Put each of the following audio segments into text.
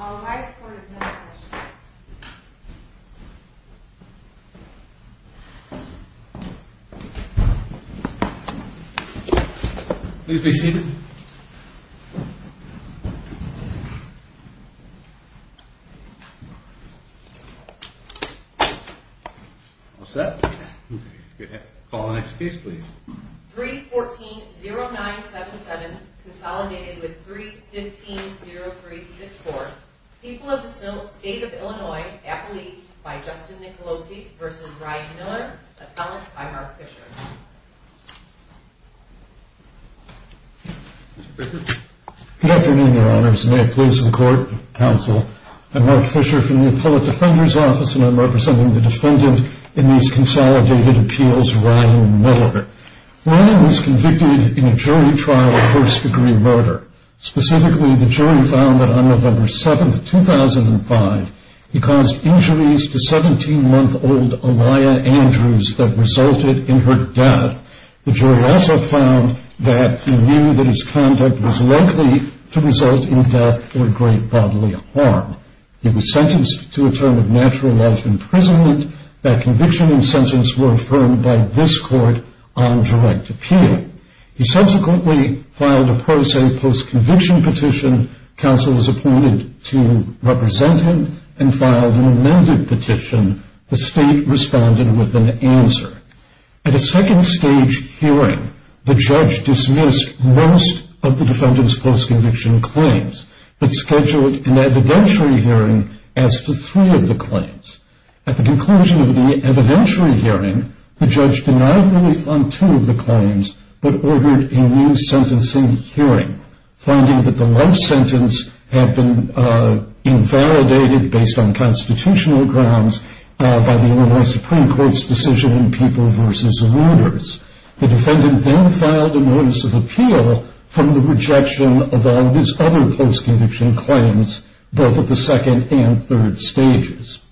All rise for the Senate election. Please be seated. All set? Call the next case please. 3-14-0977, consolidated with 3-15-0977. People of the state of Illinois, appellee by Justin Nicolosi v. Ryan Miller, appellant by Mark Fisher. Good afternoon, Your Honors, and may it please the Court, Counsel, I'm Mark Fisher from the Appellate Defender's Office, and I'm representing the defendant in these consolidated appeals, Ryan Miller. Ryan was convicted in a jury trial of first-degree murder. Specifically, the jury found that on November 7, 2005, he caused injuries to 17-month-old Aliyah Andrews that resulted in her death. The jury also found that he knew that his conduct was likely to result in death or great bodily harm. He was sentenced to a term of natural life imprisonment. That conviction and sentence were affirmed by this Court on direct appeal. He subsequently filed a pro se post-conviction petition. Counsel was appointed to represent him and filed an amended petition. The state responded with an answer. At a second stage hearing, the judge dismissed most of the defendant's post-conviction claims, but scheduled an evidentiary hearing as to three of the claims. At the conclusion of the evidentiary hearing, the judge denied relief on two of the claims, but ordered a new sentencing hearing, finding that the life sentence had been invalidated based on constitutional grounds by the Illinois Supreme Court's decision in People v. Reuters. The defendant then filed a notice of appeal from the rejection of all his other post-conviction claims, both at the second and third stages.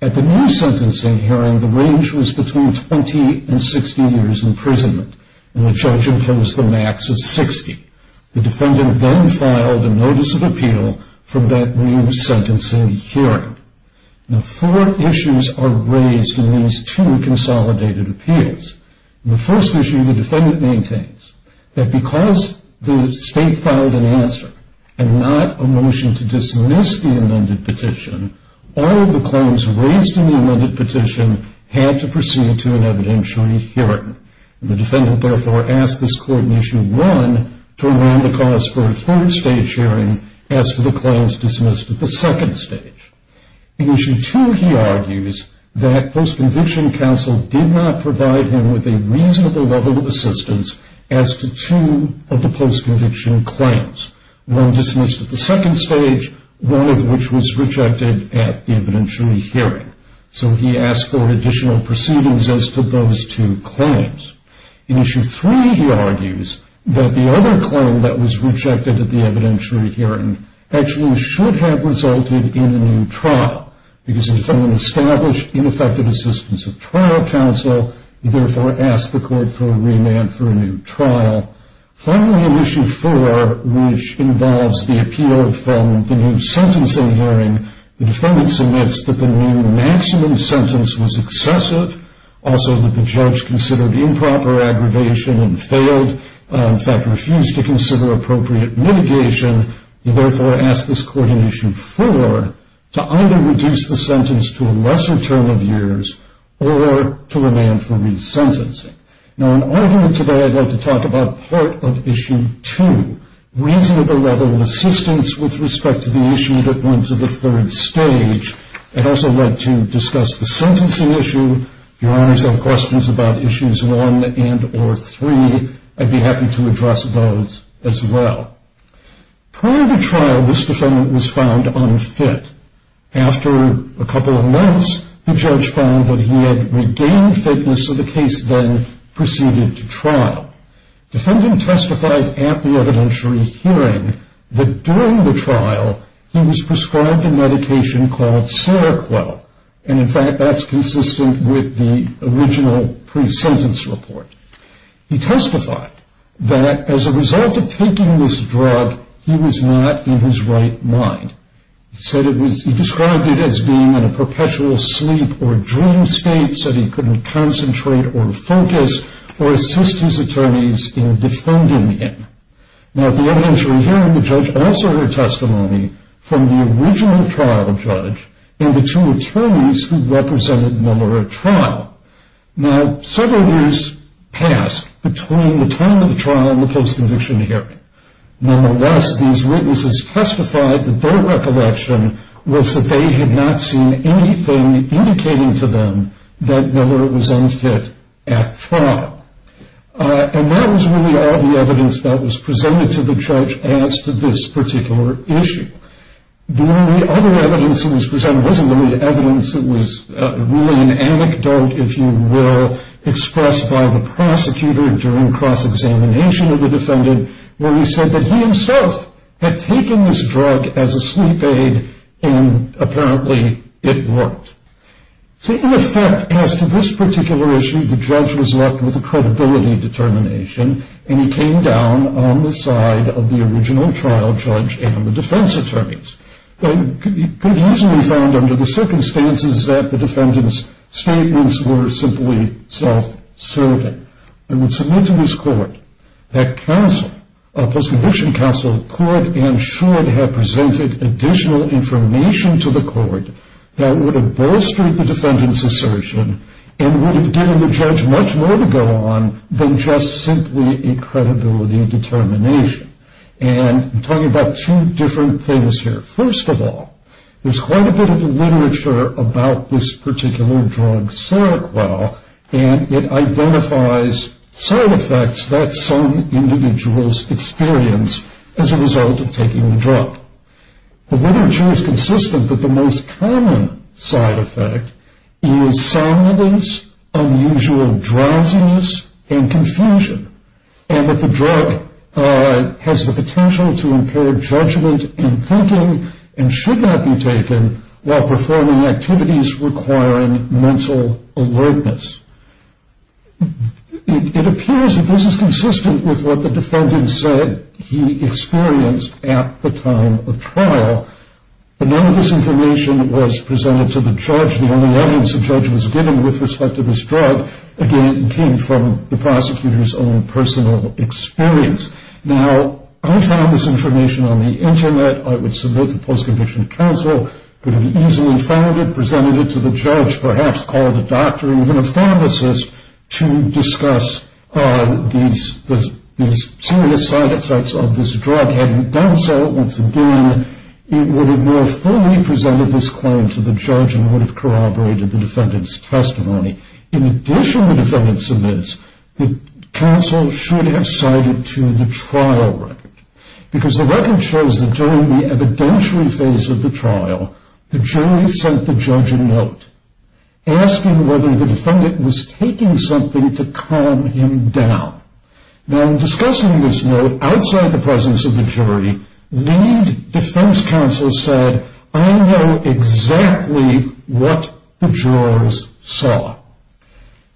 At the new sentencing hearing, the range was between 20 and 60 years imprisonment, and the judge imposed the max of 60. The defendant then filed a notice of appeal from that new sentencing hearing. Four issues are raised in these two consolidated appeals. The first issue the defendant maintains, that because the state filed an answer and not a motion to dismiss the amended petition, all of the claims raised in the amended petition had to proceed to an evidentiary hearing. The defendant therefore asked this court in issue one to allow the cause for a third stage hearing as to the claims dismissed at the second stage. In issue two, he argues that post-conviction counsel did not provide him with a reasonable level of assistance as to two of the post-conviction claims, one dismissed at the second stage, one of which was rejected at the evidentiary hearing. So he asked for additional proceedings as to those two claims. In issue three, he argues that the other claim that was rejected at the evidentiary hearing actually should have resulted in a new trial, because the defendant established ineffective assistance of trial counsel, and therefore asked the court for a remand for a new trial. Finally, in issue four, which involves the appeal from the new sentencing hearing, the defendant submits that the new maximum sentence was excessive, also that the judge considered improper aggravation and failed, in fact refused to consider appropriate mitigation. He therefore asked this court in issue four to either reduce the sentence to a lesser term of years, or to remand for resentencing. Now, in argument today, I'd like to talk about part of issue two, reasonable level of assistance with respect to the issue that went to the third stage. I'd also like to discuss the sentencing issue. If your honors have questions about issues one and or three, I'd be happy to address those as well. Prior to trial, this defendant was found unfit. After a couple of months, the judge found that he had regained fitness, so the case then proceeded to trial. Defendant testified at the evidentiary hearing that during the trial, he was prescribed a medication called Seroquel. In fact, that's consistent with the original pre-sentence report. He testified that as a result of taking this drug, he was not in his right mind. He described it as being in a perpetual sleep or dream state, said he couldn't concentrate or focus or assist his attorneys in defending him. Now, at the evidentiary hearing, the judge also heard testimony from the original trial judge and the two attorneys who represented Miller at trial. Now, several years passed between the time of the trial and the post-conviction hearing. Nonetheless, these witnesses testified that their recollection was that they had not seen anything indicating to them that Miller was unfit at trial. And that was really all the evidence that was presented to the judge as to this particular issue. The only other evidence that was presented wasn't really evidence, it was really an anecdote, if you will, expressed by the prosecutor during the cross-examination of the defendant where he said that he himself had taken this drug as a sleep aid and apparently it worked. So in effect, as to this particular issue, the judge was left with a credibility determination and he came down on the side of the original trial judge and the defense attorneys. It could easily be found under the circumstances that the defendant's self-serving and would submit to this court that counsel, a post-conviction counsel, could and should have presented additional information to the court that would have bolstered the defendant's assertion and would have given the judge much more to go on than just simply a credibility determination. And I'm talking about two different things here. First of all, there's quite a bit of literature about this particular drug called Seroquel, and it identifies side effects that some individuals experience as a result of taking the drug. The literature is consistent that the most common side effect is soundness, unusual drowsiness, and confusion, and that the drug has the potential to impair judgment in thinking and should not be taken while performing activities requiring mental alertness. It appears that this is consistent with what the defendant said he experienced at the time of trial, but none of this information was presented to the judge. The only evidence the judge was given with respect to this drug, again, came from the prosecutor's own personal experience. Now, I found this information on the Internet. I would submit the post-condition counsel could have easily found it, presented it to the judge, perhaps called a doctor, even a pharmacist to discuss these serious side effects of this drug. Had he done so, once again, it would have more fully presented this claim to the judge and would have corroborated the defendant's testimony. In addition, the defendant submits, the counsel should have cited to the trial record, because the record shows that during the evidentiary phase of the trial, the jury sent the judge a note asking whether the defendant was taking something to calm him down. Now, in discussing this note outside the presence of the jury, the defense counsel said, I know exactly what the jurors saw.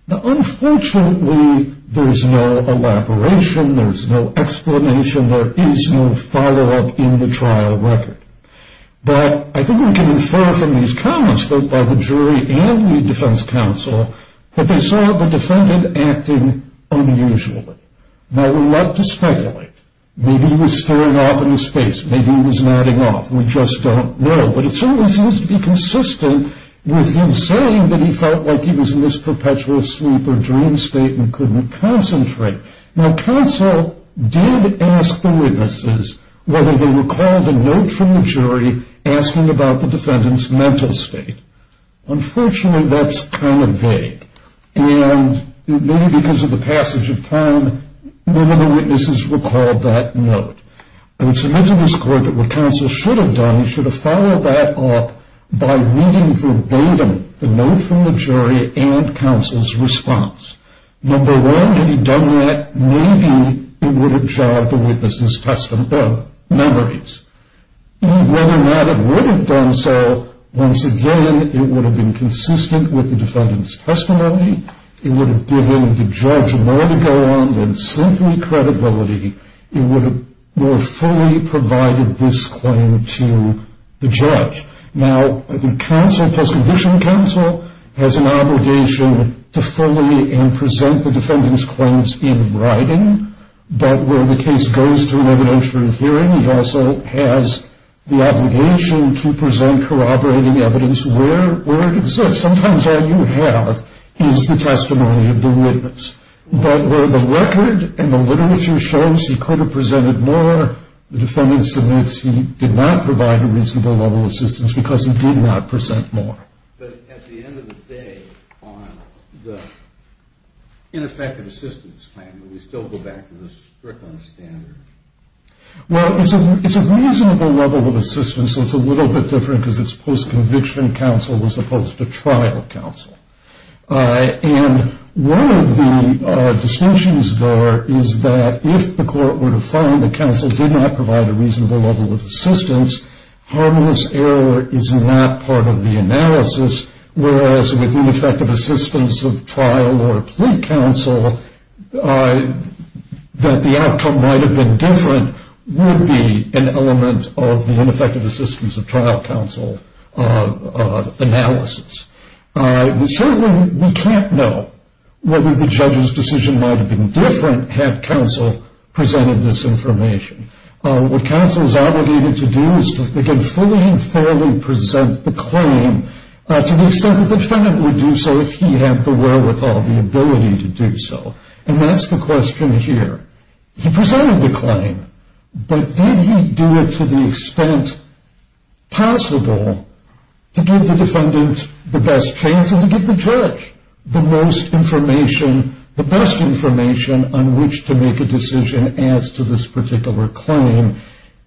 Now, unfortunately, there's no elaboration, there's no explanation, there is no follow-up in the trial record. But I think we can infer from these comments both by the jury and the defense counsel that they saw the defendant acting unusually. Now, we love to speculate. Maybe he was staring off into space, maybe he was nodding off. We just don't know. But it certainly seems to be consistent with him saying that he felt like he was in this perpetual sleep or dream state and couldn't concentrate. Now, counsel did ask the witnesses whether they recalled a note from the jury asking about the defendant's mental state. Unfortunately, that's kind of vague. And maybe because of the passage of time, many of the witnesses recalled that note. And it's a misunderstanding that what counsel should have done, he should have followed that up by reading verbatim the note from the jury and counsel's response. Number one, had he done that, maybe it would have jogged the witness's memories. Whether or not it would have done so, once again, it would have been consistent with the defendant's testimony. It would have given the judge more to go on than simply credibility. Now, counsel, post-conviction counsel, has an obligation to fully and present the defendant's claims in writing. But where the case goes to an evidentiary hearing, he also has the obligation to present corroborating evidence where it exists. Sometimes all you have is the testimony of the witness. But where the record and the literature shows he could have presented more, the defendant submits he did not provide a reasonable level of assistance because he did not present more. But at the end of the day, on the ineffective assistance claim, would we still go back to the strickland standard? Well, it's a reasonable level of assistance, so it's a little bit different because it's post-conviction counsel as opposed to trial counsel. And one of the distinctions, though, is that if the court were to find that counsel did not provide a reasonable level of assistance, harmless error is not part of the analysis, whereas with ineffective assistance of trial or plea counsel, that the outcome might have been different would be an element of the ineffective assistance of trial counsel analysis. Certainly we can't know whether the judge's decision might have been different had counsel presented this information. What counsel is obligated to do is to, again, fully and fairly present the claim to the extent that the defendant would do so if he had the wherewithal, the ability to do so. And that's the question here. He presented the claim, but did he do it to the extent possible to give the defendant the best chance and to give the judge the most information, the best information on which to make a decision as to this particular claim?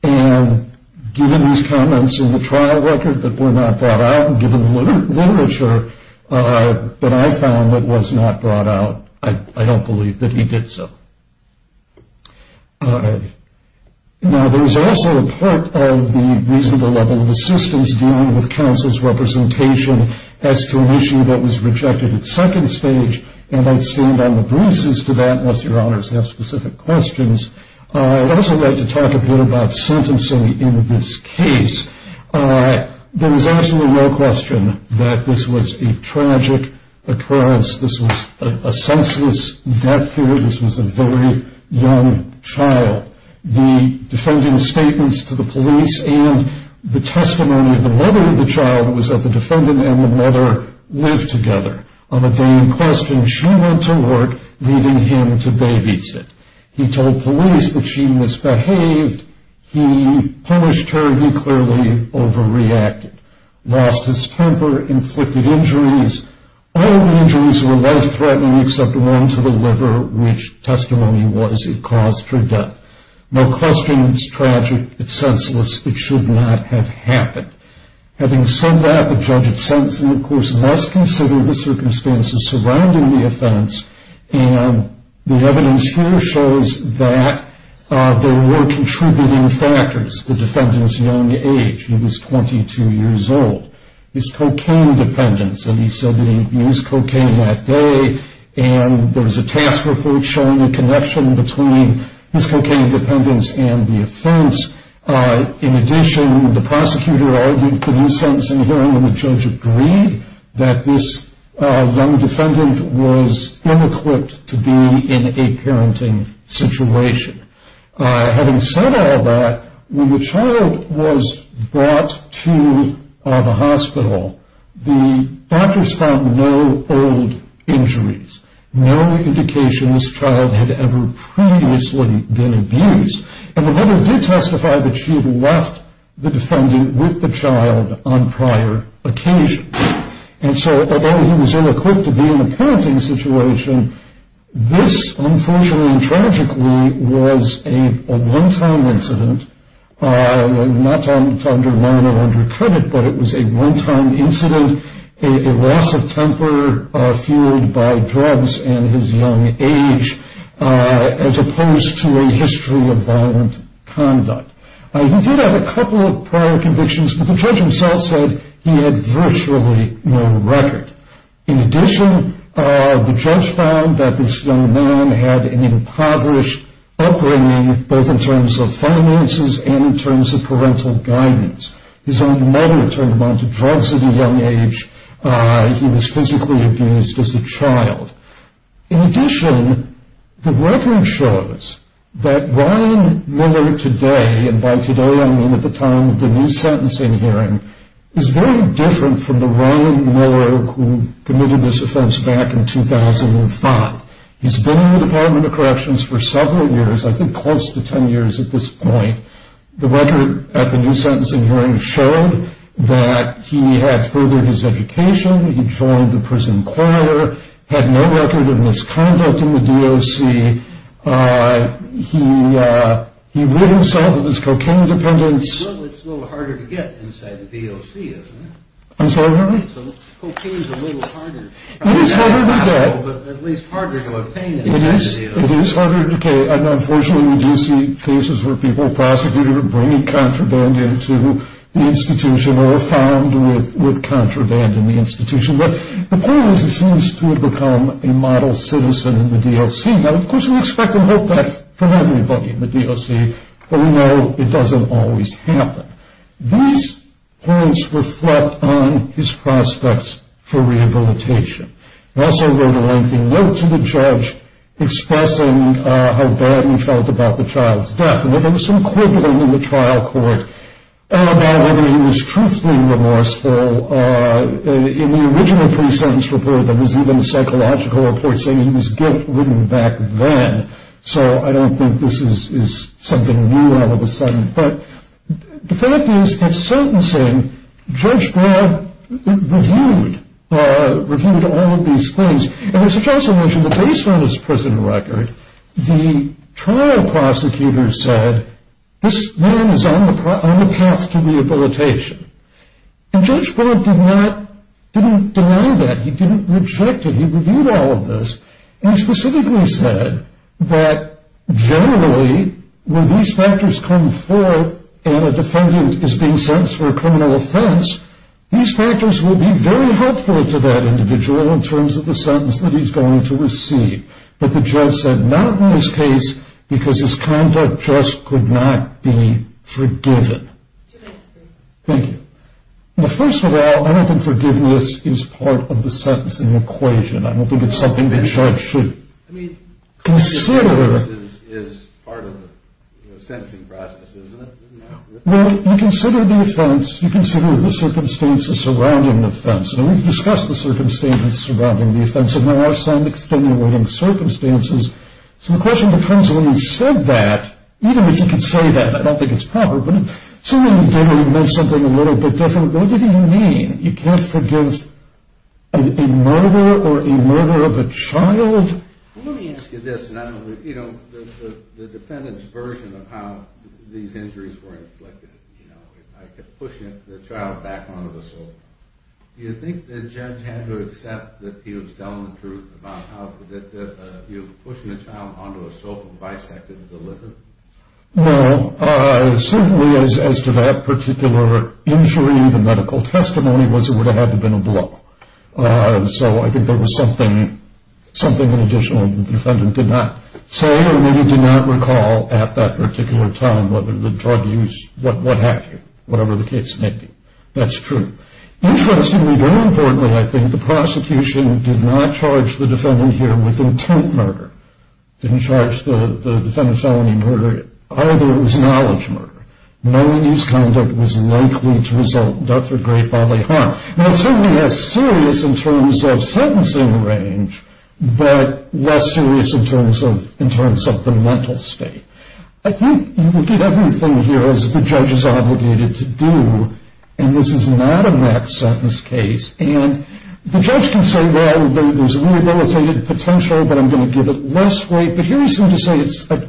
And given his comments in the trial record that were not brought out, given the literature that I found that was not brought out, I don't believe that he did so. Now, there was also a part of the reasonable level of assistance dealing with counsel's representation as to an issue that was rejected at second stage, and I'd stand on the bruises to that unless Your Honors have specific questions. I'd also like to talk a bit about sentencing in this case. There was absolutely no question that this was a tragic occurrence. This was a senseless death. This was a very young child. The defendant's statements to the police and the testimony of the mother of the child was that the defendant and the mother lived together. On a day in question, she went to work, leaving him to babysit. He told police that she misbehaved. He punished her. He clearly overreacted, lost his temper, inflicted injuries. All the injuries were life-threatening except one to the liver, which testimony was it caused her death. No question it's tragic. It's senseless. It should not have happened. Having said that, the judge had sentenced him. Of course, let's consider the circumstances surrounding the offense, and the evidence here shows that there were contributing factors. The defendant's young age. He was 22 years old. His cocaine dependence, and he said that he used cocaine that day, and there was a task report showing the connection between his cocaine dependence and the offense. In addition, the prosecutor argued for his sentence in the hearing, and the judge agreed that this young defendant was unequipped to be in a parenting situation. Having said all that, when the child was brought to the hospital, the doctors found no old injuries, no indications the child had ever previously been abused, and the mother did testify that she had left the defendant with the child on prior occasions. And so although he was unequipped to be in a parenting situation, this, unfortunately and tragically, was a one-time incident. I'm not trying to undermine or undercut it, but it was a one-time incident, a loss of temper fueled by drugs and his young age, as opposed to a history of violent conduct. He did have a couple of prior convictions, but the judge himself said he had virtually no record. In addition, the judge found that this young man had an impoverished upbringing, both in terms of finances and in terms of parental guidance. His own mother turned him on to drugs at a young age. He was physically abused as a child. In addition, the record shows that Ryan Miller today, and by today I mean at the time of the new sentencing hearing, is very different from the Ryan Miller who committed this offense back in 2005. He's been in the Department of Corrections for several years, I think close to ten years at this point. The record at the new sentencing hearing showed that he had furthered his education, he joined the prison choir, had no record of misconduct in the DOC. He rid himself of his cocaine dependence. It's a little harder to get inside the DOC, isn't it? I'm sorry, Harry? Cocaine's a little harder. It is harder to get. At least harder to obtain inside the DOC. It is harder to get, and unfortunately we do see cases where people are prosecuted or bring contraband into the institution or are found with contraband in the institution. But the point is he seems to have become a model citizen in the DOC. Now, of course we expect and hope that from everybody in the DOC, but we know it doesn't always happen. These points reflect on his prospects for rehabilitation. I also wrote a lengthy note to the judge expressing how bad he felt about the child's death. There was some quibbling in the trial court about whether he was truthfully remorseful. In the original pre-sentence report, there was even a psychological report saying he was guilt ridden back then. So I don't think this is something new all of a sudden. But the fact is, at sentencing, Judge Broad reviewed all of these claims. And I should also mention that based on his prison record, the trial prosecutor said this man is on the path to rehabilitation. And Judge Broad did not deny that. He didn't reject it. He reviewed all of this. And he specifically said that generally when these factors come forth and a defendant is being sentenced for a criminal offense, these factors will be very helpful to that individual in terms of the sentence that he's going to receive. But the judge said not in this case because his conduct just could not be forgiven. Thank you. First of all, I don't think forgiveness is part of the sentencing equation. I don't think it's something the judge should consider. I mean, forgiveness is part of the sentencing process, isn't it? Well, you consider the offense. You consider the circumstances surrounding the offense. And we've discussed the circumstances surrounding the offense. There are some extenuating circumstances. So the question becomes when you said that, even if you could say that, I don't think it's proper, but if someone did admit something a little bit different, what did he mean? You can't forgive a murder or a murder of a child? Let me ask you this. You know, the defendant's version of how these injuries were inflicted, you know, I could push the child back onto the sofa. Do you think the judge had to accept that he was telling the truth about how he was pushing the child onto a sofa and bisected the lizard? Well, certainly as to that particular injury, the medical testimony was it would have had to have been a blow. So I think there was something in addition that the defendant did not say or maybe did not recall at that particular time, whether the drug use, what have you, whatever the case may be. That's true. Interestingly, very importantly, I think, the prosecution did not charge the defendant here with intent murder. They didn't charge the defendant with felony murder, either. It was knowledge murder. Knowing his conduct was likely to result in death or grave bodily harm. Now, it certainly has serious in terms of sentencing range, but less serious in terms of the mental state. I think you can get everything here as the judge is obligated to do, and this is not a max sentence case. The judge can say, well, there's a rehabilitated potential, but I'm going to give it less weight. But here he's going to say,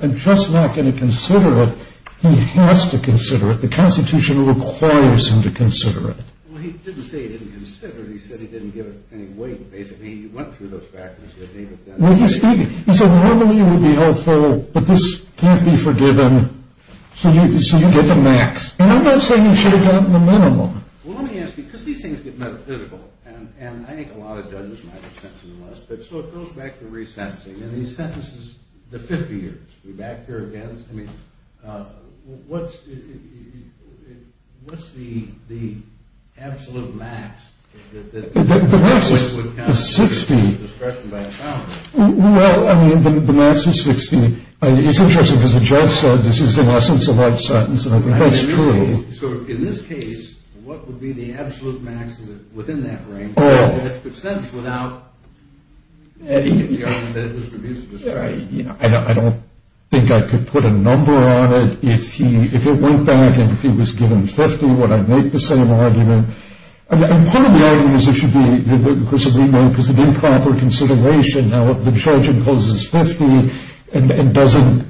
I'm just not going to consider it. He has to consider it. The Constitution requires him to consider it. Well, he didn't say he didn't consider it. He said he didn't give it any weight, basically. He went through those factors. He said, normally it would be helpful, but this can't be forgiven, so you get the max. And I'm not saying he should have gotten the minimum. Well, let me ask you, because these things get metaphysical, and I think a lot of judges might have sentenced him less, but so it goes back to resentencing, and these sentences, the 50 years. Are we back here again? I mean, what's the absolute max? The max is 60. Well, I mean, the max is 60. It's interesting because the judge said this is the essence of that sentence, and I think that's true. So in this case, what would be the absolute max within that range? That's the sentence without any of the argument that it was reduced to a strike. I don't think I could put a number on it. If it went back and if he was given 50, would I make the same argument? I mean, part of the argument is there should be, of course, an improper consideration. Now, if the judge imposes 50 and doesn't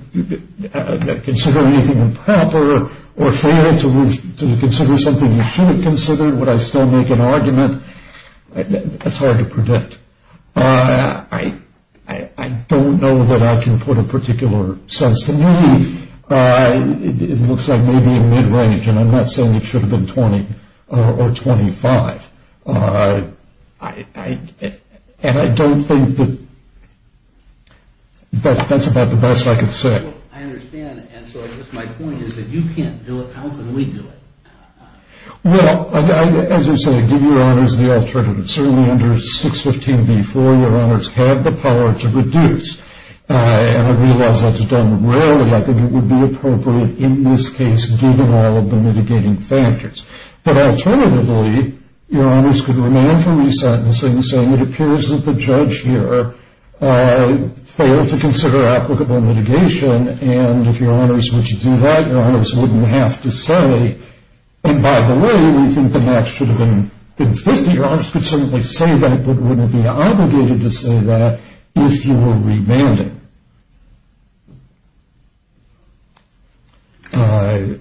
consider anything improper or fair to consider something you should have considered, would I still make an argument? That's hard to predict. I don't know that I can put a particular sense. To me, it looks like maybe a mid-range, and I'm not saying it should have been 20 or 25. And I don't think that that's about the best I can say. I understand, and so I guess my point is that you can't do it. How can we do it? Well, as I said, give your honors the alternative. Certainly under 615b, four-year honors have the power to reduce, and I realize that's done rarely. I think it would be appropriate in this case given all of the mitigating factors. But alternatively, your honors could remand for resentencing, saying it appears that the judge here failed to consider applicable mitigation, and if your honors would do that, your honors wouldn't have to say, and by the way, we think the max should have been 50. Your honors could certainly say that but wouldn't be obligated to say that if you were remanding.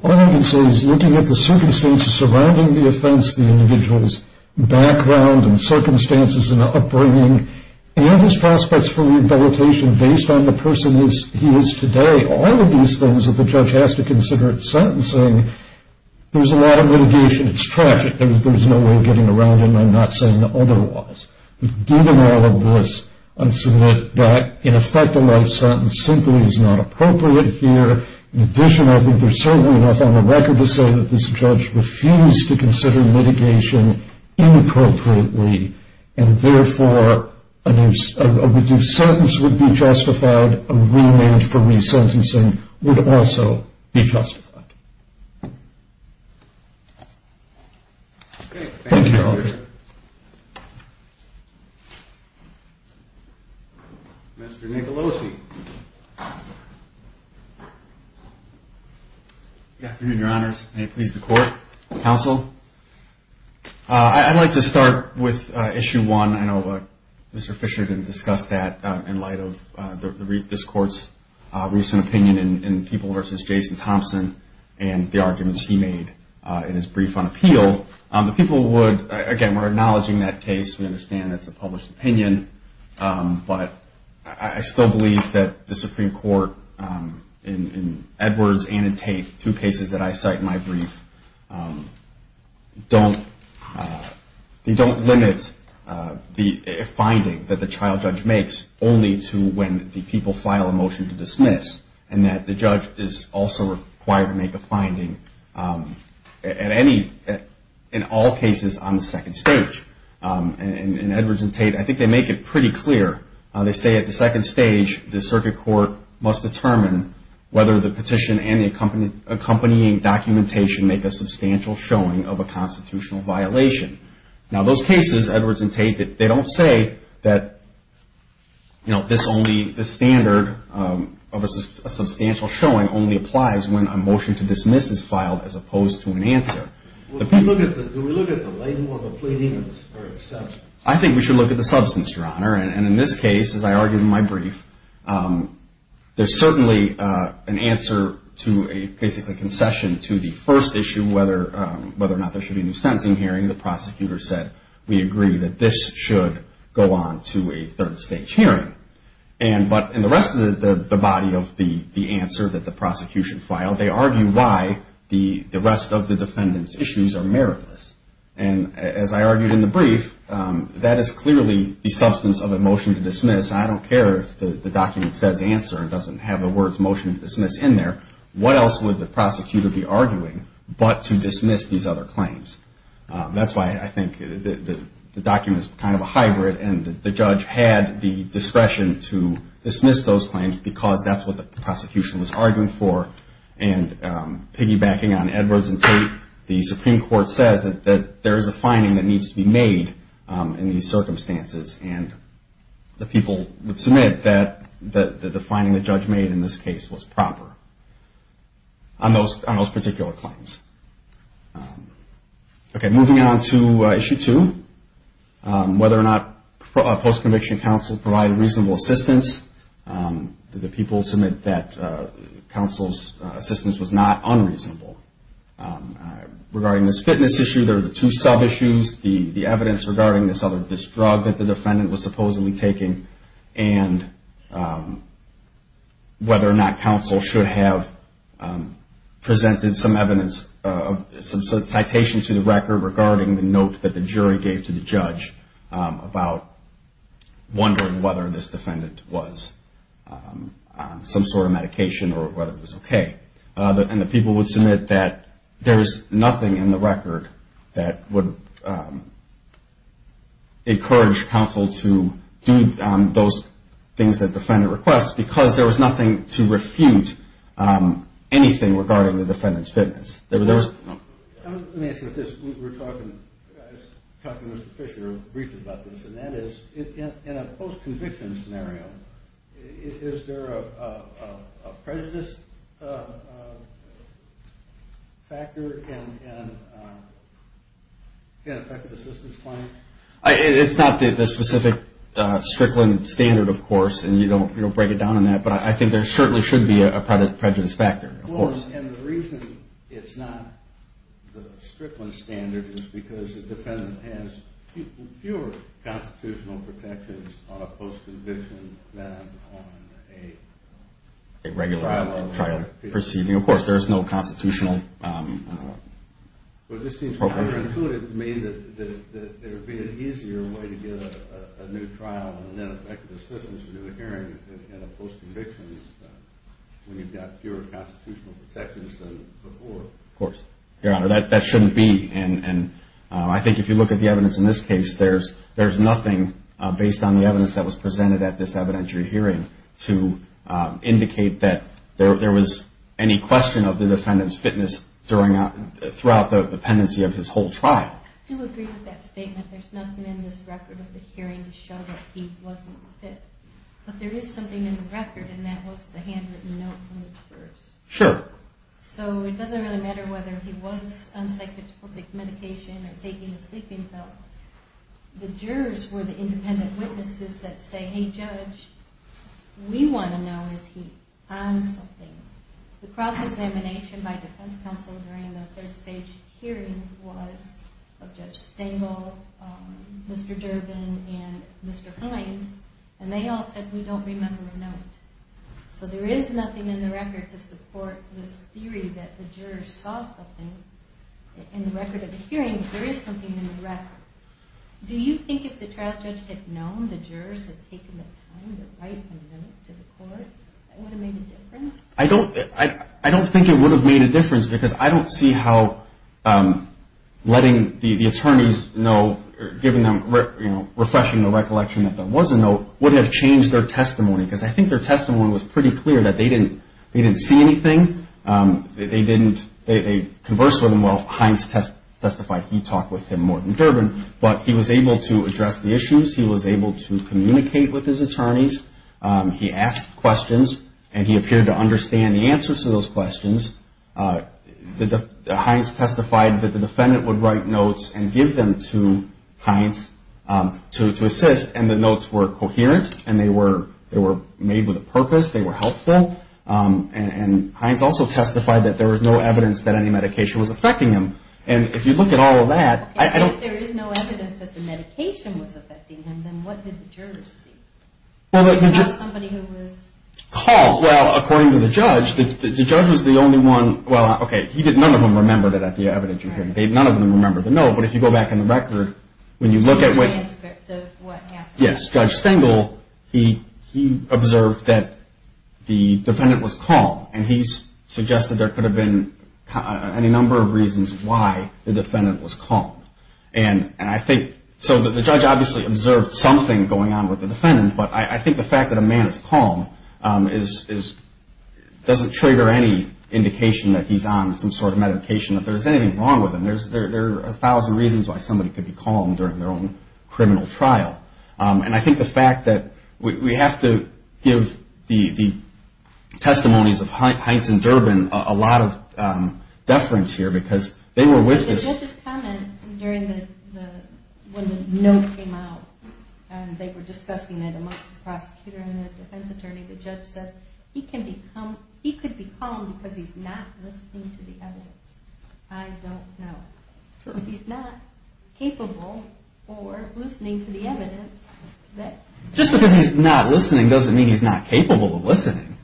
All I can say is looking at the circumstances surrounding the offense, the individual's background and circumstances in the upbringing, and his prospects for rehabilitation based on the person he is today, all of these things that the judge has to consider in sentencing, there's a lot of mitigation. It's tragic. There's no way of getting around it, and I'm not saying otherwise. But given all of this, I submit that, in effect, a life sentence simply is not appropriate here. In addition, I think there's certainly enough on the record to say that this judge refused to consider mitigation inappropriately and, therefore, a reduced sentence would be justified. A remand for resentencing would also be justified. Thank you. Mr. Nicolosi. Good afternoon, your honors. May it please the court, counsel. I'd like to start with Issue 1. I know Mr. Fisher didn't discuss that in light of this court's recent opinion in People v. Jason Thompson. And the arguments he made in his brief on appeal. The people would, again, we're acknowledging that case. We understand that's a published opinion. But I still believe that the Supreme Court, in Edwards and in Tate, two cases that I cite in my brief, don't limit the finding that the child judge makes only to when the people file a motion to dismiss. And that the judge is also required to make a finding in all cases on the second stage. In Edwards and Tate, I think they make it pretty clear. They say at the second stage, the circuit court must determine whether the petition and the accompanying documentation make a substantial showing of a constitutional violation. Now, those cases, Edwards and Tate, they don't say that this only, the standard of a substantial showing only applies when a motion to dismiss is filed as opposed to an answer. Do we look at the label or the plea dealings? I think we should look at the substance, your honor. And in this case, as I argued in my brief, there's certainly an answer to a basically concession to the first issue, whether or not there should be a new sentencing hearing. The prosecutor said, we agree that this should go on to a third stage hearing. But in the rest of the body of the answer that the prosecution filed, they argue why the rest of the defendant's issues are meritless. And as I argued in the brief, that is clearly the substance of a motion to dismiss. I don't care if the document says answer and doesn't have the words motion to dismiss in there. What else would the prosecutor be arguing but to dismiss these other claims? That's why I think the document is kind of a hybrid, and the judge had the discretion to dismiss those claims because that's what the prosecution was arguing for. And piggybacking on Edwards and Tate, the Supreme Court says that there is a finding that needs to be made in these circumstances. And the people would submit that the finding the judge made in this case was proper on those particular claims. Okay, moving on to issue two, whether or not a post-conviction counsel provided reasonable assistance. The people submit that counsel's assistance was not unreasonable. Regarding this fitness issue, there are the two sub-issues. The evidence regarding this drug that the defendant was supposedly taking, and whether or not counsel should have presented some evidence, some citation to the record regarding the note that the jury gave to the judge about wondering whether this defendant was on some sort of medication or whether it was okay. And the people would submit that there is nothing in the record that would encourage counsel to do those things that the defendant requests because there was nothing to refute anything regarding the defendant's fitness. Let me ask you this. I was talking to Mr. Fisher briefly about this, and that is in a post-conviction scenario, is there a prejudice factor that can affect the assistance claim? It's not the specific Strickland standard, of course, and you don't break it down on that, but I think there certainly should be a prejudice factor, of course. Well, and the reason it's not the Strickland standard is because the defendant has fewer constitutional protections on a post-conviction than on a regular trial. Of course, there is no constitutional appropriation. But it seems counterintuitive to me that there would be an easier way to get a new trial and, in effect, assistance in a hearing in a post-conviction when you've got fewer constitutional protections than before. Of course. Your Honor, that shouldn't be, and I think if you look at the evidence in this case, there's nothing based on the evidence that was presented at this evidentiary hearing to indicate that there was any question of the defendant's fitness throughout the pendency of his whole trial. I do agree with that statement. There's nothing in this record of the hearing to show that he wasn't fit. But there is something in the record, and that was the handwritten note from the purse. Sure. So it doesn't really matter whether he was on psychotropic medication or taking a sleeping pill. The jurors were the independent witnesses that say, Hey, Judge, we want to know, is he on something? The cross-examination by defense counsel during the third stage hearing was of Judge Stengel, Mr. Durbin, and Mr. Hines, and they all said, We don't remember a note. So there is nothing in the record to support this theory that the jurors saw something. In the record of the hearing, there is something in the record. Do you think if the trial judge had known the jurors had taken the time to write a note to the court, it would have made a difference? I don't think it would have made a difference because I don't see how letting the attorneys know, giving them, you know, refreshing the recollection that there was a note, wouldn't have changed their testimony because I think their testimony was pretty clear that they didn't see anything. They conversed with him. Well, Hines testified he talked with him more than Durbin, but he was able to address the issues. He was able to communicate with his attorneys. He asked questions, and he appeared to understand the answers to those questions. Hines testified that the defendant would write notes and give them to Hines to assist, and the notes were coherent and they were made with a purpose. They were helpful. And Hines also testified that there was no evidence that any medication was affecting him. And if you look at all of that, I don't... If there is no evidence that the medication was affecting him, then what did the jurors see? Well, the jurors... They saw somebody who was... Called. Well, according to the judge, the judge was the only one, well, okay, none of them remembered it at the evidence hearing. None of them remembered the note, but if you go back in the record, when you look at what... The transcript of what happened. Yes. Judge Stengel, he observed that the defendant was calm, and he suggested there could have been any number of reasons why the defendant was calm. And I think... So the judge obviously observed something going on with the defendant, but I think the fact that a man is calm doesn't trigger any indication that he's on some sort of medication, that there's anything wrong with him. There are a thousand reasons why somebody could be calm during their own criminal trial. And I think the fact that... We have to give the testimonies of Heintz and Durbin a lot of deference here, because they were with us... The judge's comment during the... When the note came out, and they were discussing it amongst the prosecutor and the defense attorney, the judge says, he could be calm because he's not listening to the evidence. I don't know. He's not capable or listening to the evidence that... Just because he's not listening doesn't mean he's not capable of listening.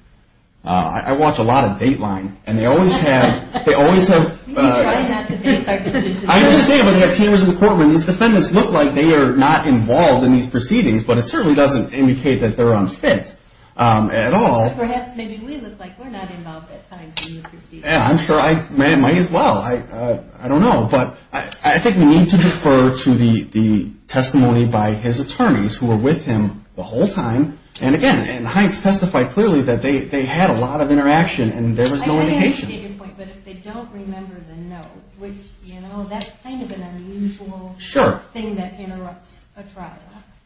I watch a lot of Dateline, and they always have... He's trying not to fix our decisions. I understand, but they have cameras in the courtroom. These defendants look like they are not involved in these proceedings, but it certainly doesn't indicate that they're unfit at all. Perhaps maybe we look like we're not involved at times in the proceedings. I'm sure I might as well. I don't know. But I think we need to defer to the testimony by his attorneys, who were with him the whole time. And, again, Heintz testified clearly that they had a lot of interaction, and there was no indication. I understand your point, but if they don't remember the note, which, you know, that's kind of an unusual thing that interrupts a trial.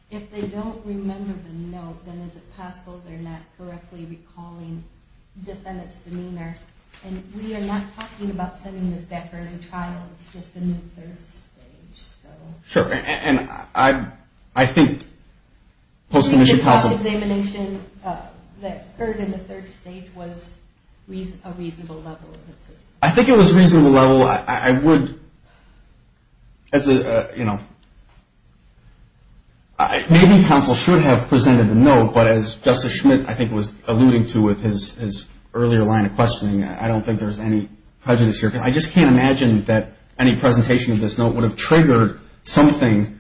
If they don't remember the note, then is it possible they're not correctly recalling defendant's demeanor? And we are not talking about sending this back for a new trial. It's just a new third stage, so... Sure, and I think post-commissioned counsel... Do you think the cross-examination, that third and the third stage, was a reasonable level of insistence? I think it was a reasonable level. Well, I would, as a, you know... Maybe counsel should have presented the note, but as Justice Schmidt, I think, was alluding to with his earlier line of questioning, I don't think there's any prejudice here. I just can't imagine that any presentation of this note would have triggered something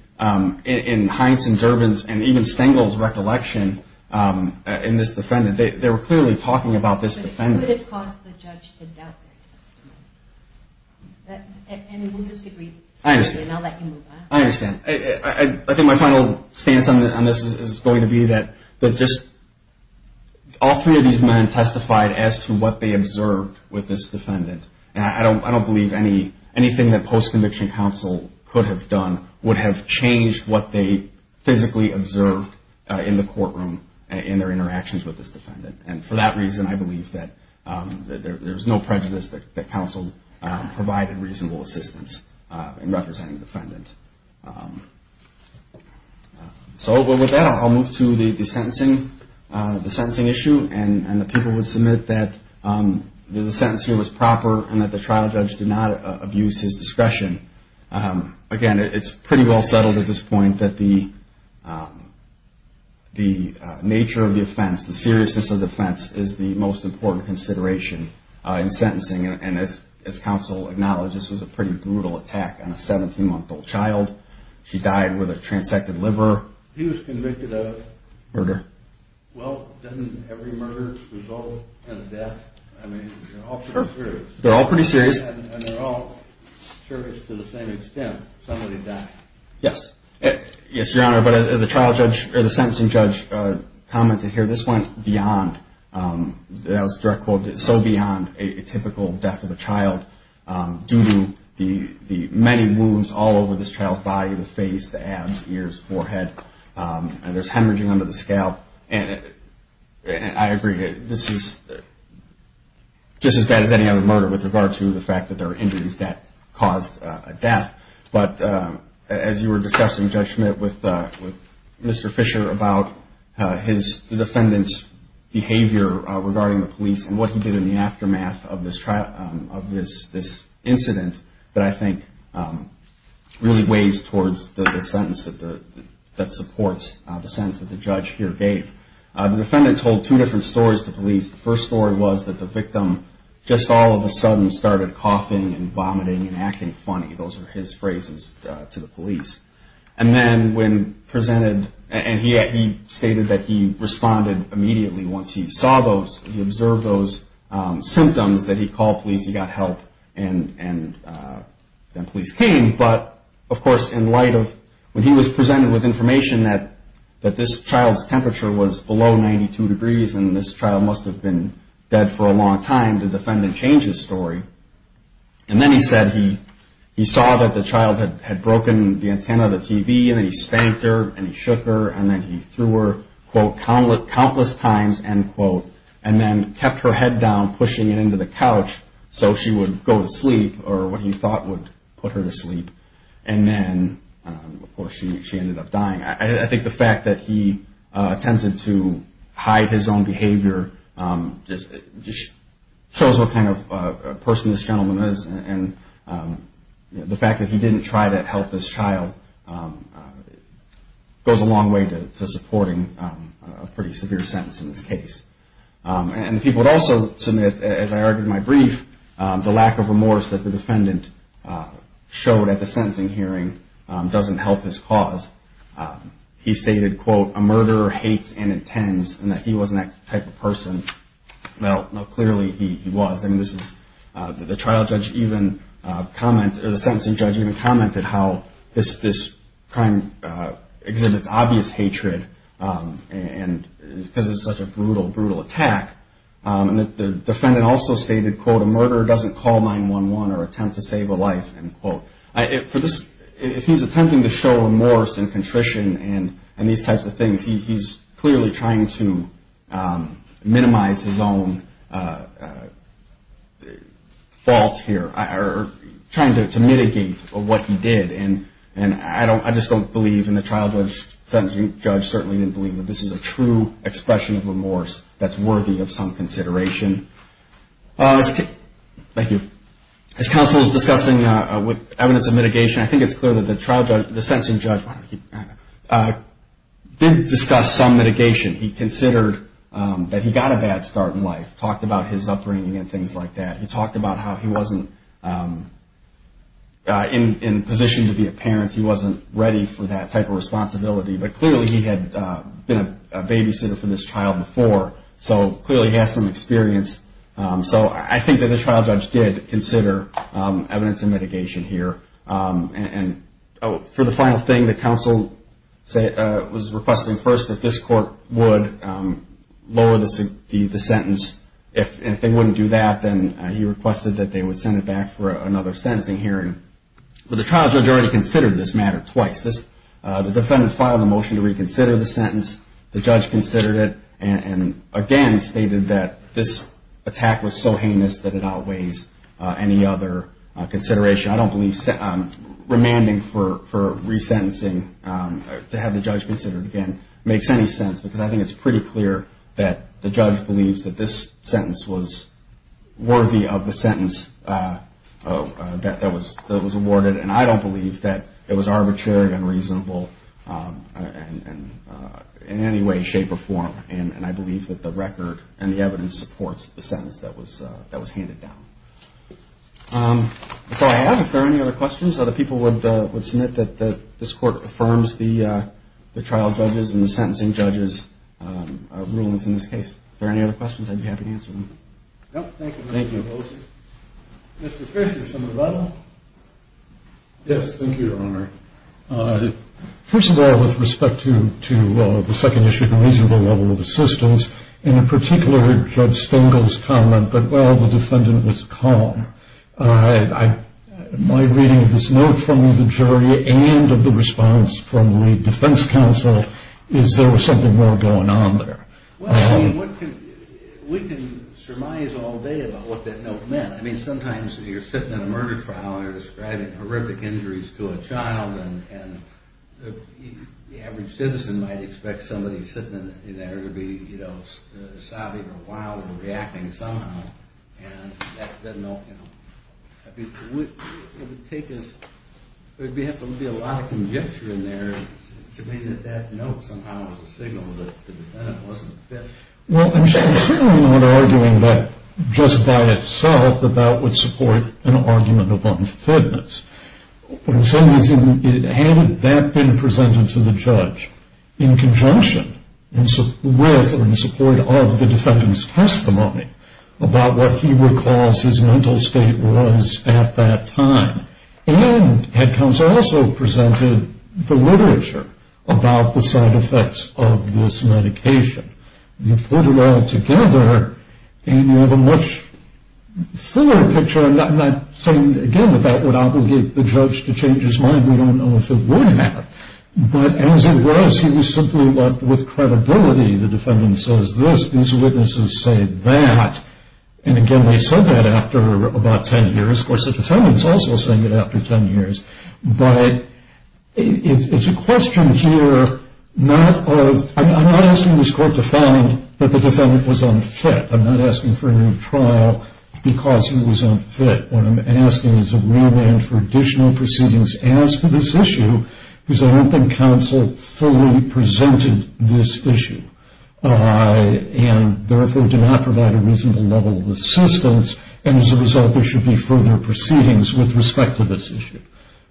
in Heintz and Durbin's and even Stengel's recollection in this defendant. They were clearly talking about this defendant. It would have caused the judge to doubt their testimony. And we'll disagree. I understand. And I'll let you move on. I understand. I think my final stance on this is going to be that just... All three of these men testified as to what they observed with this defendant. And I don't believe anything that post-conviction counsel could have done would have changed what they physically observed in the courtroom in their interactions with this defendant. And for that reason, I believe that there's no prejudice that counsel provided reasonable assistance in representing the defendant. So with that, I'll move to the sentencing issue and the people who submit that the sentence here was proper and that the trial judge did not abuse his discretion. Again, it's pretty well settled at this point that the nature of the offense, the seriousness of the offense, is the most important consideration in sentencing. And as counsel acknowledged, this was a pretty brutal attack on a 17-month-old child. She died with a transected liver. He was convicted of? Murder. Well, doesn't every murder result in death? I mean, they're all pretty serious. They're all pretty serious. And they're all serious to the same extent. Somebody died. Yes. Yes, Your Honor. But as the trial judge or the sentencing judge commented here, this went beyond, that was a direct quote, so beyond a typical death of a child due to the many wounds all over this child's body, the face, the abs, ears, forehead. And there's hemorrhaging under the scalp. And I agree, this is just as bad as any other murder But as you were discussing, Judge Schmidt, with Mr. Fisher, about his defendant's behavior regarding the police and what he did in the aftermath of this incident that I think really weighs towards the sentence that supports the sentence that the judge here gave. The defendant told two different stories to police. The first story was that the victim just all of a sudden started coughing and vomiting and acting funny. Those are his phrases to the police. And then when presented, and he stated that he responded immediately once he saw those, he observed those symptoms that he called police, he got help, and then police came. But, of course, in light of when he was presented with information that this child's temperature was below 92 degrees and this child must have been dead for a long time, the defendant changed his story. And then he said he saw that the child had broken the antenna of the TV, and then he spanked her, and he shook her, and then he threw her, quote, countless times, end quote, and then kept her head down, pushing it into the couch so she would go to sleep, or what he thought would put her to sleep. And then, of course, she ended up dying. I think the fact that he attempted to hide his own behavior just shows what kind of person this gentleman is, and the fact that he didn't try to help this child goes a long way to supporting a pretty severe sentence in this case. And people would also submit, as I argued in my brief, the lack of remorse that the defendant showed at the sentencing hearing doesn't help his cause. He stated, quote, a murderer hates and intends, and that he wasn't that type of person. Well, clearly he was. I mean, the trial judge even commented, or the sentencing judge even commented, how this crime exhibits obvious hatred because it's such a brutal, brutal attack. And the defendant also stated, quote, a murderer doesn't call 911 or attempt to save a life, end quote. If he's attempting to show remorse and contrition and these types of things, he's clearly trying to minimize his own fault here, or trying to mitigate what he did. And I just don't believe, and the trial judge certainly didn't believe that this is a true expression of remorse that's worthy of some consideration. Thank you. As counsel is discussing evidence of mitigation, I think it's clear that the trial judge, the sentencing judge, did discuss some mitigation. He considered that he got a bad start in life, talked about his upbringing and things like that. He talked about how he wasn't in a position to be a parent. He wasn't ready for that type of responsibility. But clearly he had been a babysitter for this child before, so clearly he has some experience. So I think that the trial judge did consider evidence of mitigation here. And for the final thing, the counsel was requesting first that this court would lower the sentence. If they wouldn't do that, then he requested that they would send it back for another sentencing hearing. But the trial judge already considered this matter twice. The judge considered it and, again, stated that this attack was so heinous that it outweighs any other consideration. I don't believe remanding for resentencing, to have the judge consider it again, makes any sense, because I think it's pretty clear that the judge believes that this sentence was worthy of the sentence that was awarded. And I don't believe that it was arbitrary, unreasonable in any way, shape, or form. And I believe that the record and the evidence supports the sentence that was handed down. That's all I have. If there are any other questions, other people would submit that this court affirms the trial judges and the sentencing judges' rulings in this case. If there are any other questions, I'd be happy to answer them. Thank you. Mr. Fisher, something to add? Yes, thank you, Your Honor. First of all, with respect to the second issue, the reasonable level of assistance, and in particular Judge Stengel's comment that, well, the defendant was calm, my reading of this note from the jury and of the response from the defense counsel is there was something more going on there. Well, I mean, we can surmise all day about what that note meant. I mean, sometimes you're sitting in a murder trial and you're describing horrific injuries to a child, and the average citizen might expect somebody sitting in there to be, you know, sobbing or wild or reacting somehow. And that note, you know, I mean, it would take us, there would have to be a lot of conjecture in there to mean that that note somehow was a signal that the defendant wasn't fit. Well, I'm certainly not arguing that just by itself that that would support an argument of unfitness. What I'm saying is, had that been presented to the judge in conjunction with or in support of the defendant's testimony about what he recalls his mental state was at that time, and had counsel also presented the literature about the side effects of this medication. You put it all together and you have a much thinner picture. I'm not saying, again, that that would obligate the judge to change his mind. We don't know if it would have. But as it was, he was simply left with credibility. The defendant says this, these witnesses say that. And again, they said that after about ten years. Of course, the defendant's also saying it after ten years. But it's a question here not of, I'm not asking this court to find that the defendant was unfit. I'm not asking for a new trial because he was unfit. What I'm asking is a remand for additional proceedings as to this issue because I don't think counsel fully presented this issue and therefore did not provide a reasonable level of assistance. And as a result, there should be further proceedings with respect to this issue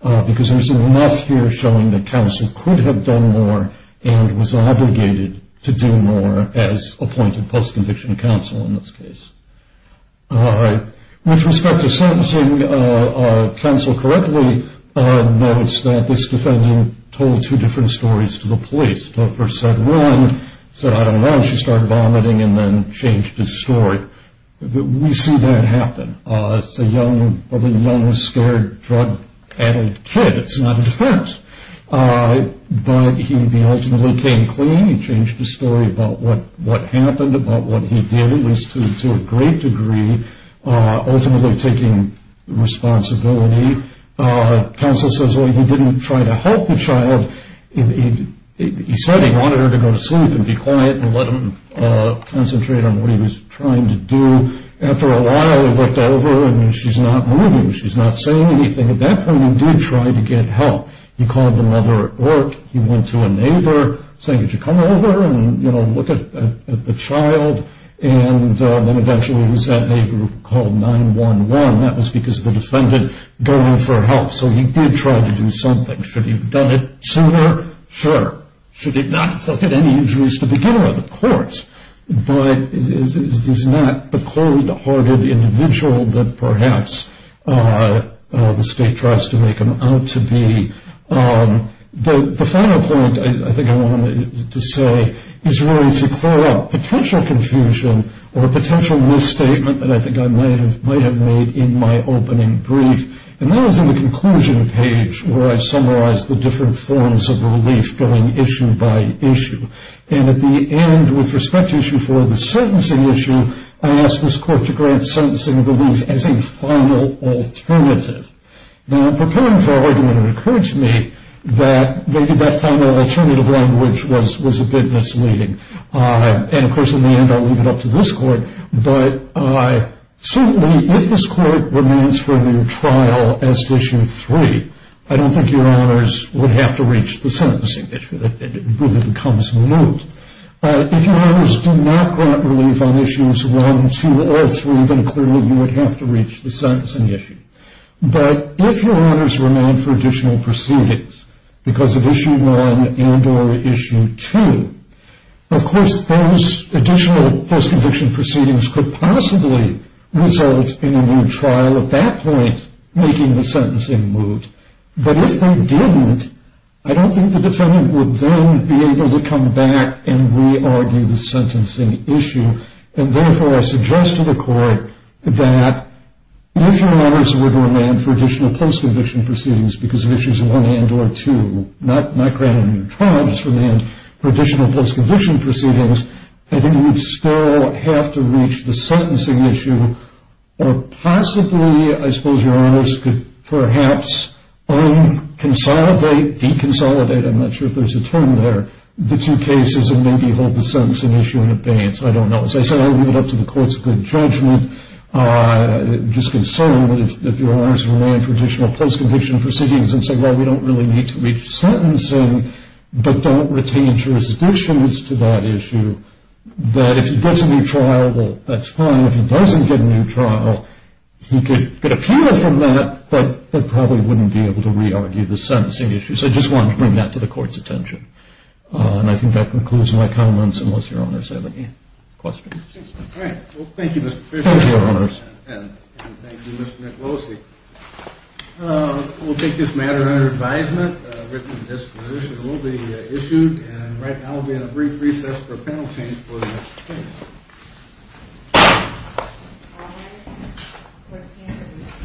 because there's enough here showing that counsel could have done more and was obligated to do more as appointed post-conviction counsel in this case. All right. With respect to sentencing, counsel correctly notes that this defendant told two different stories to the police. The first said, run. Said, I don't know. And she started vomiting and then changed his story. We see that happen. It's a young, scared drug-addicted kid. It's not a defense. But he ultimately came clean and changed his story about what happened, about what he did, at least to a great degree, ultimately taking responsibility. Counsel says, well, he didn't try to help the child. He said he wanted her to go to sleep and be quiet and let him concentrate on what he was trying to do. After a while, he looked over, and she's not moving. She's not saying anything. At that point, he did try to get help. He called the mother at work. He went to a neighbor, saying, could you come over and, you know, look at the child? And then eventually it was that neighbor who called 911. That was because the defendant got in for help. So he did try to do something. Should he have done it sooner? Sure. Should he not have looked at any injuries to begin with? Of course. But he's not the cold-hearted individual that perhaps the state tries to make him out to be. The final point I think I wanted to say is really to clear up potential confusion or a potential misstatement that I think I might have made in my opening brief, and that was in the conclusion page where I summarized the different forms of relief going issue by issue. And at the end, with respect to issue four, the sentencing issue, I asked this court to grant sentencing relief as a final alternative. Now, preparing for argument, it occurred to me that maybe that final alternative language was a bit misleading. And, of course, in the end, I'll leave it up to this court. But certainly if this court remains for a new trial as to issue three, I don't think your honors would have to reach the sentencing issue. It really becomes the news. If your honors do not grant relief on issues one, two, or three, then clearly you would have to reach the sentencing issue. But if your honors remain for additional proceedings because of issue one and or issue two, of course those additional post-conviction proceedings could possibly result in a new trial at that point making the sentencing moot. But if they didn't, I don't think the defendant would then be able to come back and re-argue the sentencing issue. And, therefore, I suggest to the court that if your honors were to remain for additional post-conviction proceedings because of issues one and or two, not grant a new trial, just remain for additional post-conviction proceedings, I think you would still have to reach the sentencing issue or possibly I suppose your honors could perhaps unconsolidate, deconsolidate, I'm not sure if there's a term there, the two cases and maybe hold the sentencing issue in abeyance. I don't know. As I said, I'll leave it up to the court's good judgment. I'm just concerned that if your honors remain for additional post-conviction proceedings and say, well, we don't really need to reach sentencing, but don't retain jurisdictions to that issue, that if he gets a new trial, that's fine. If he doesn't get a new trial, he could appeal from that, but probably wouldn't be able to re-argue the sentencing issue. So I just wanted to bring that to the court's attention. And I think that concludes my comments unless your honors have any questions. All right. Well, thank you, Mr. Fisher. Thank you, your honors. And thank you, Mr. Nick Losey. We'll take this matter under advisement. A written disposition will be issued. And right now we'll be in a brief recess for a panel change for the next case.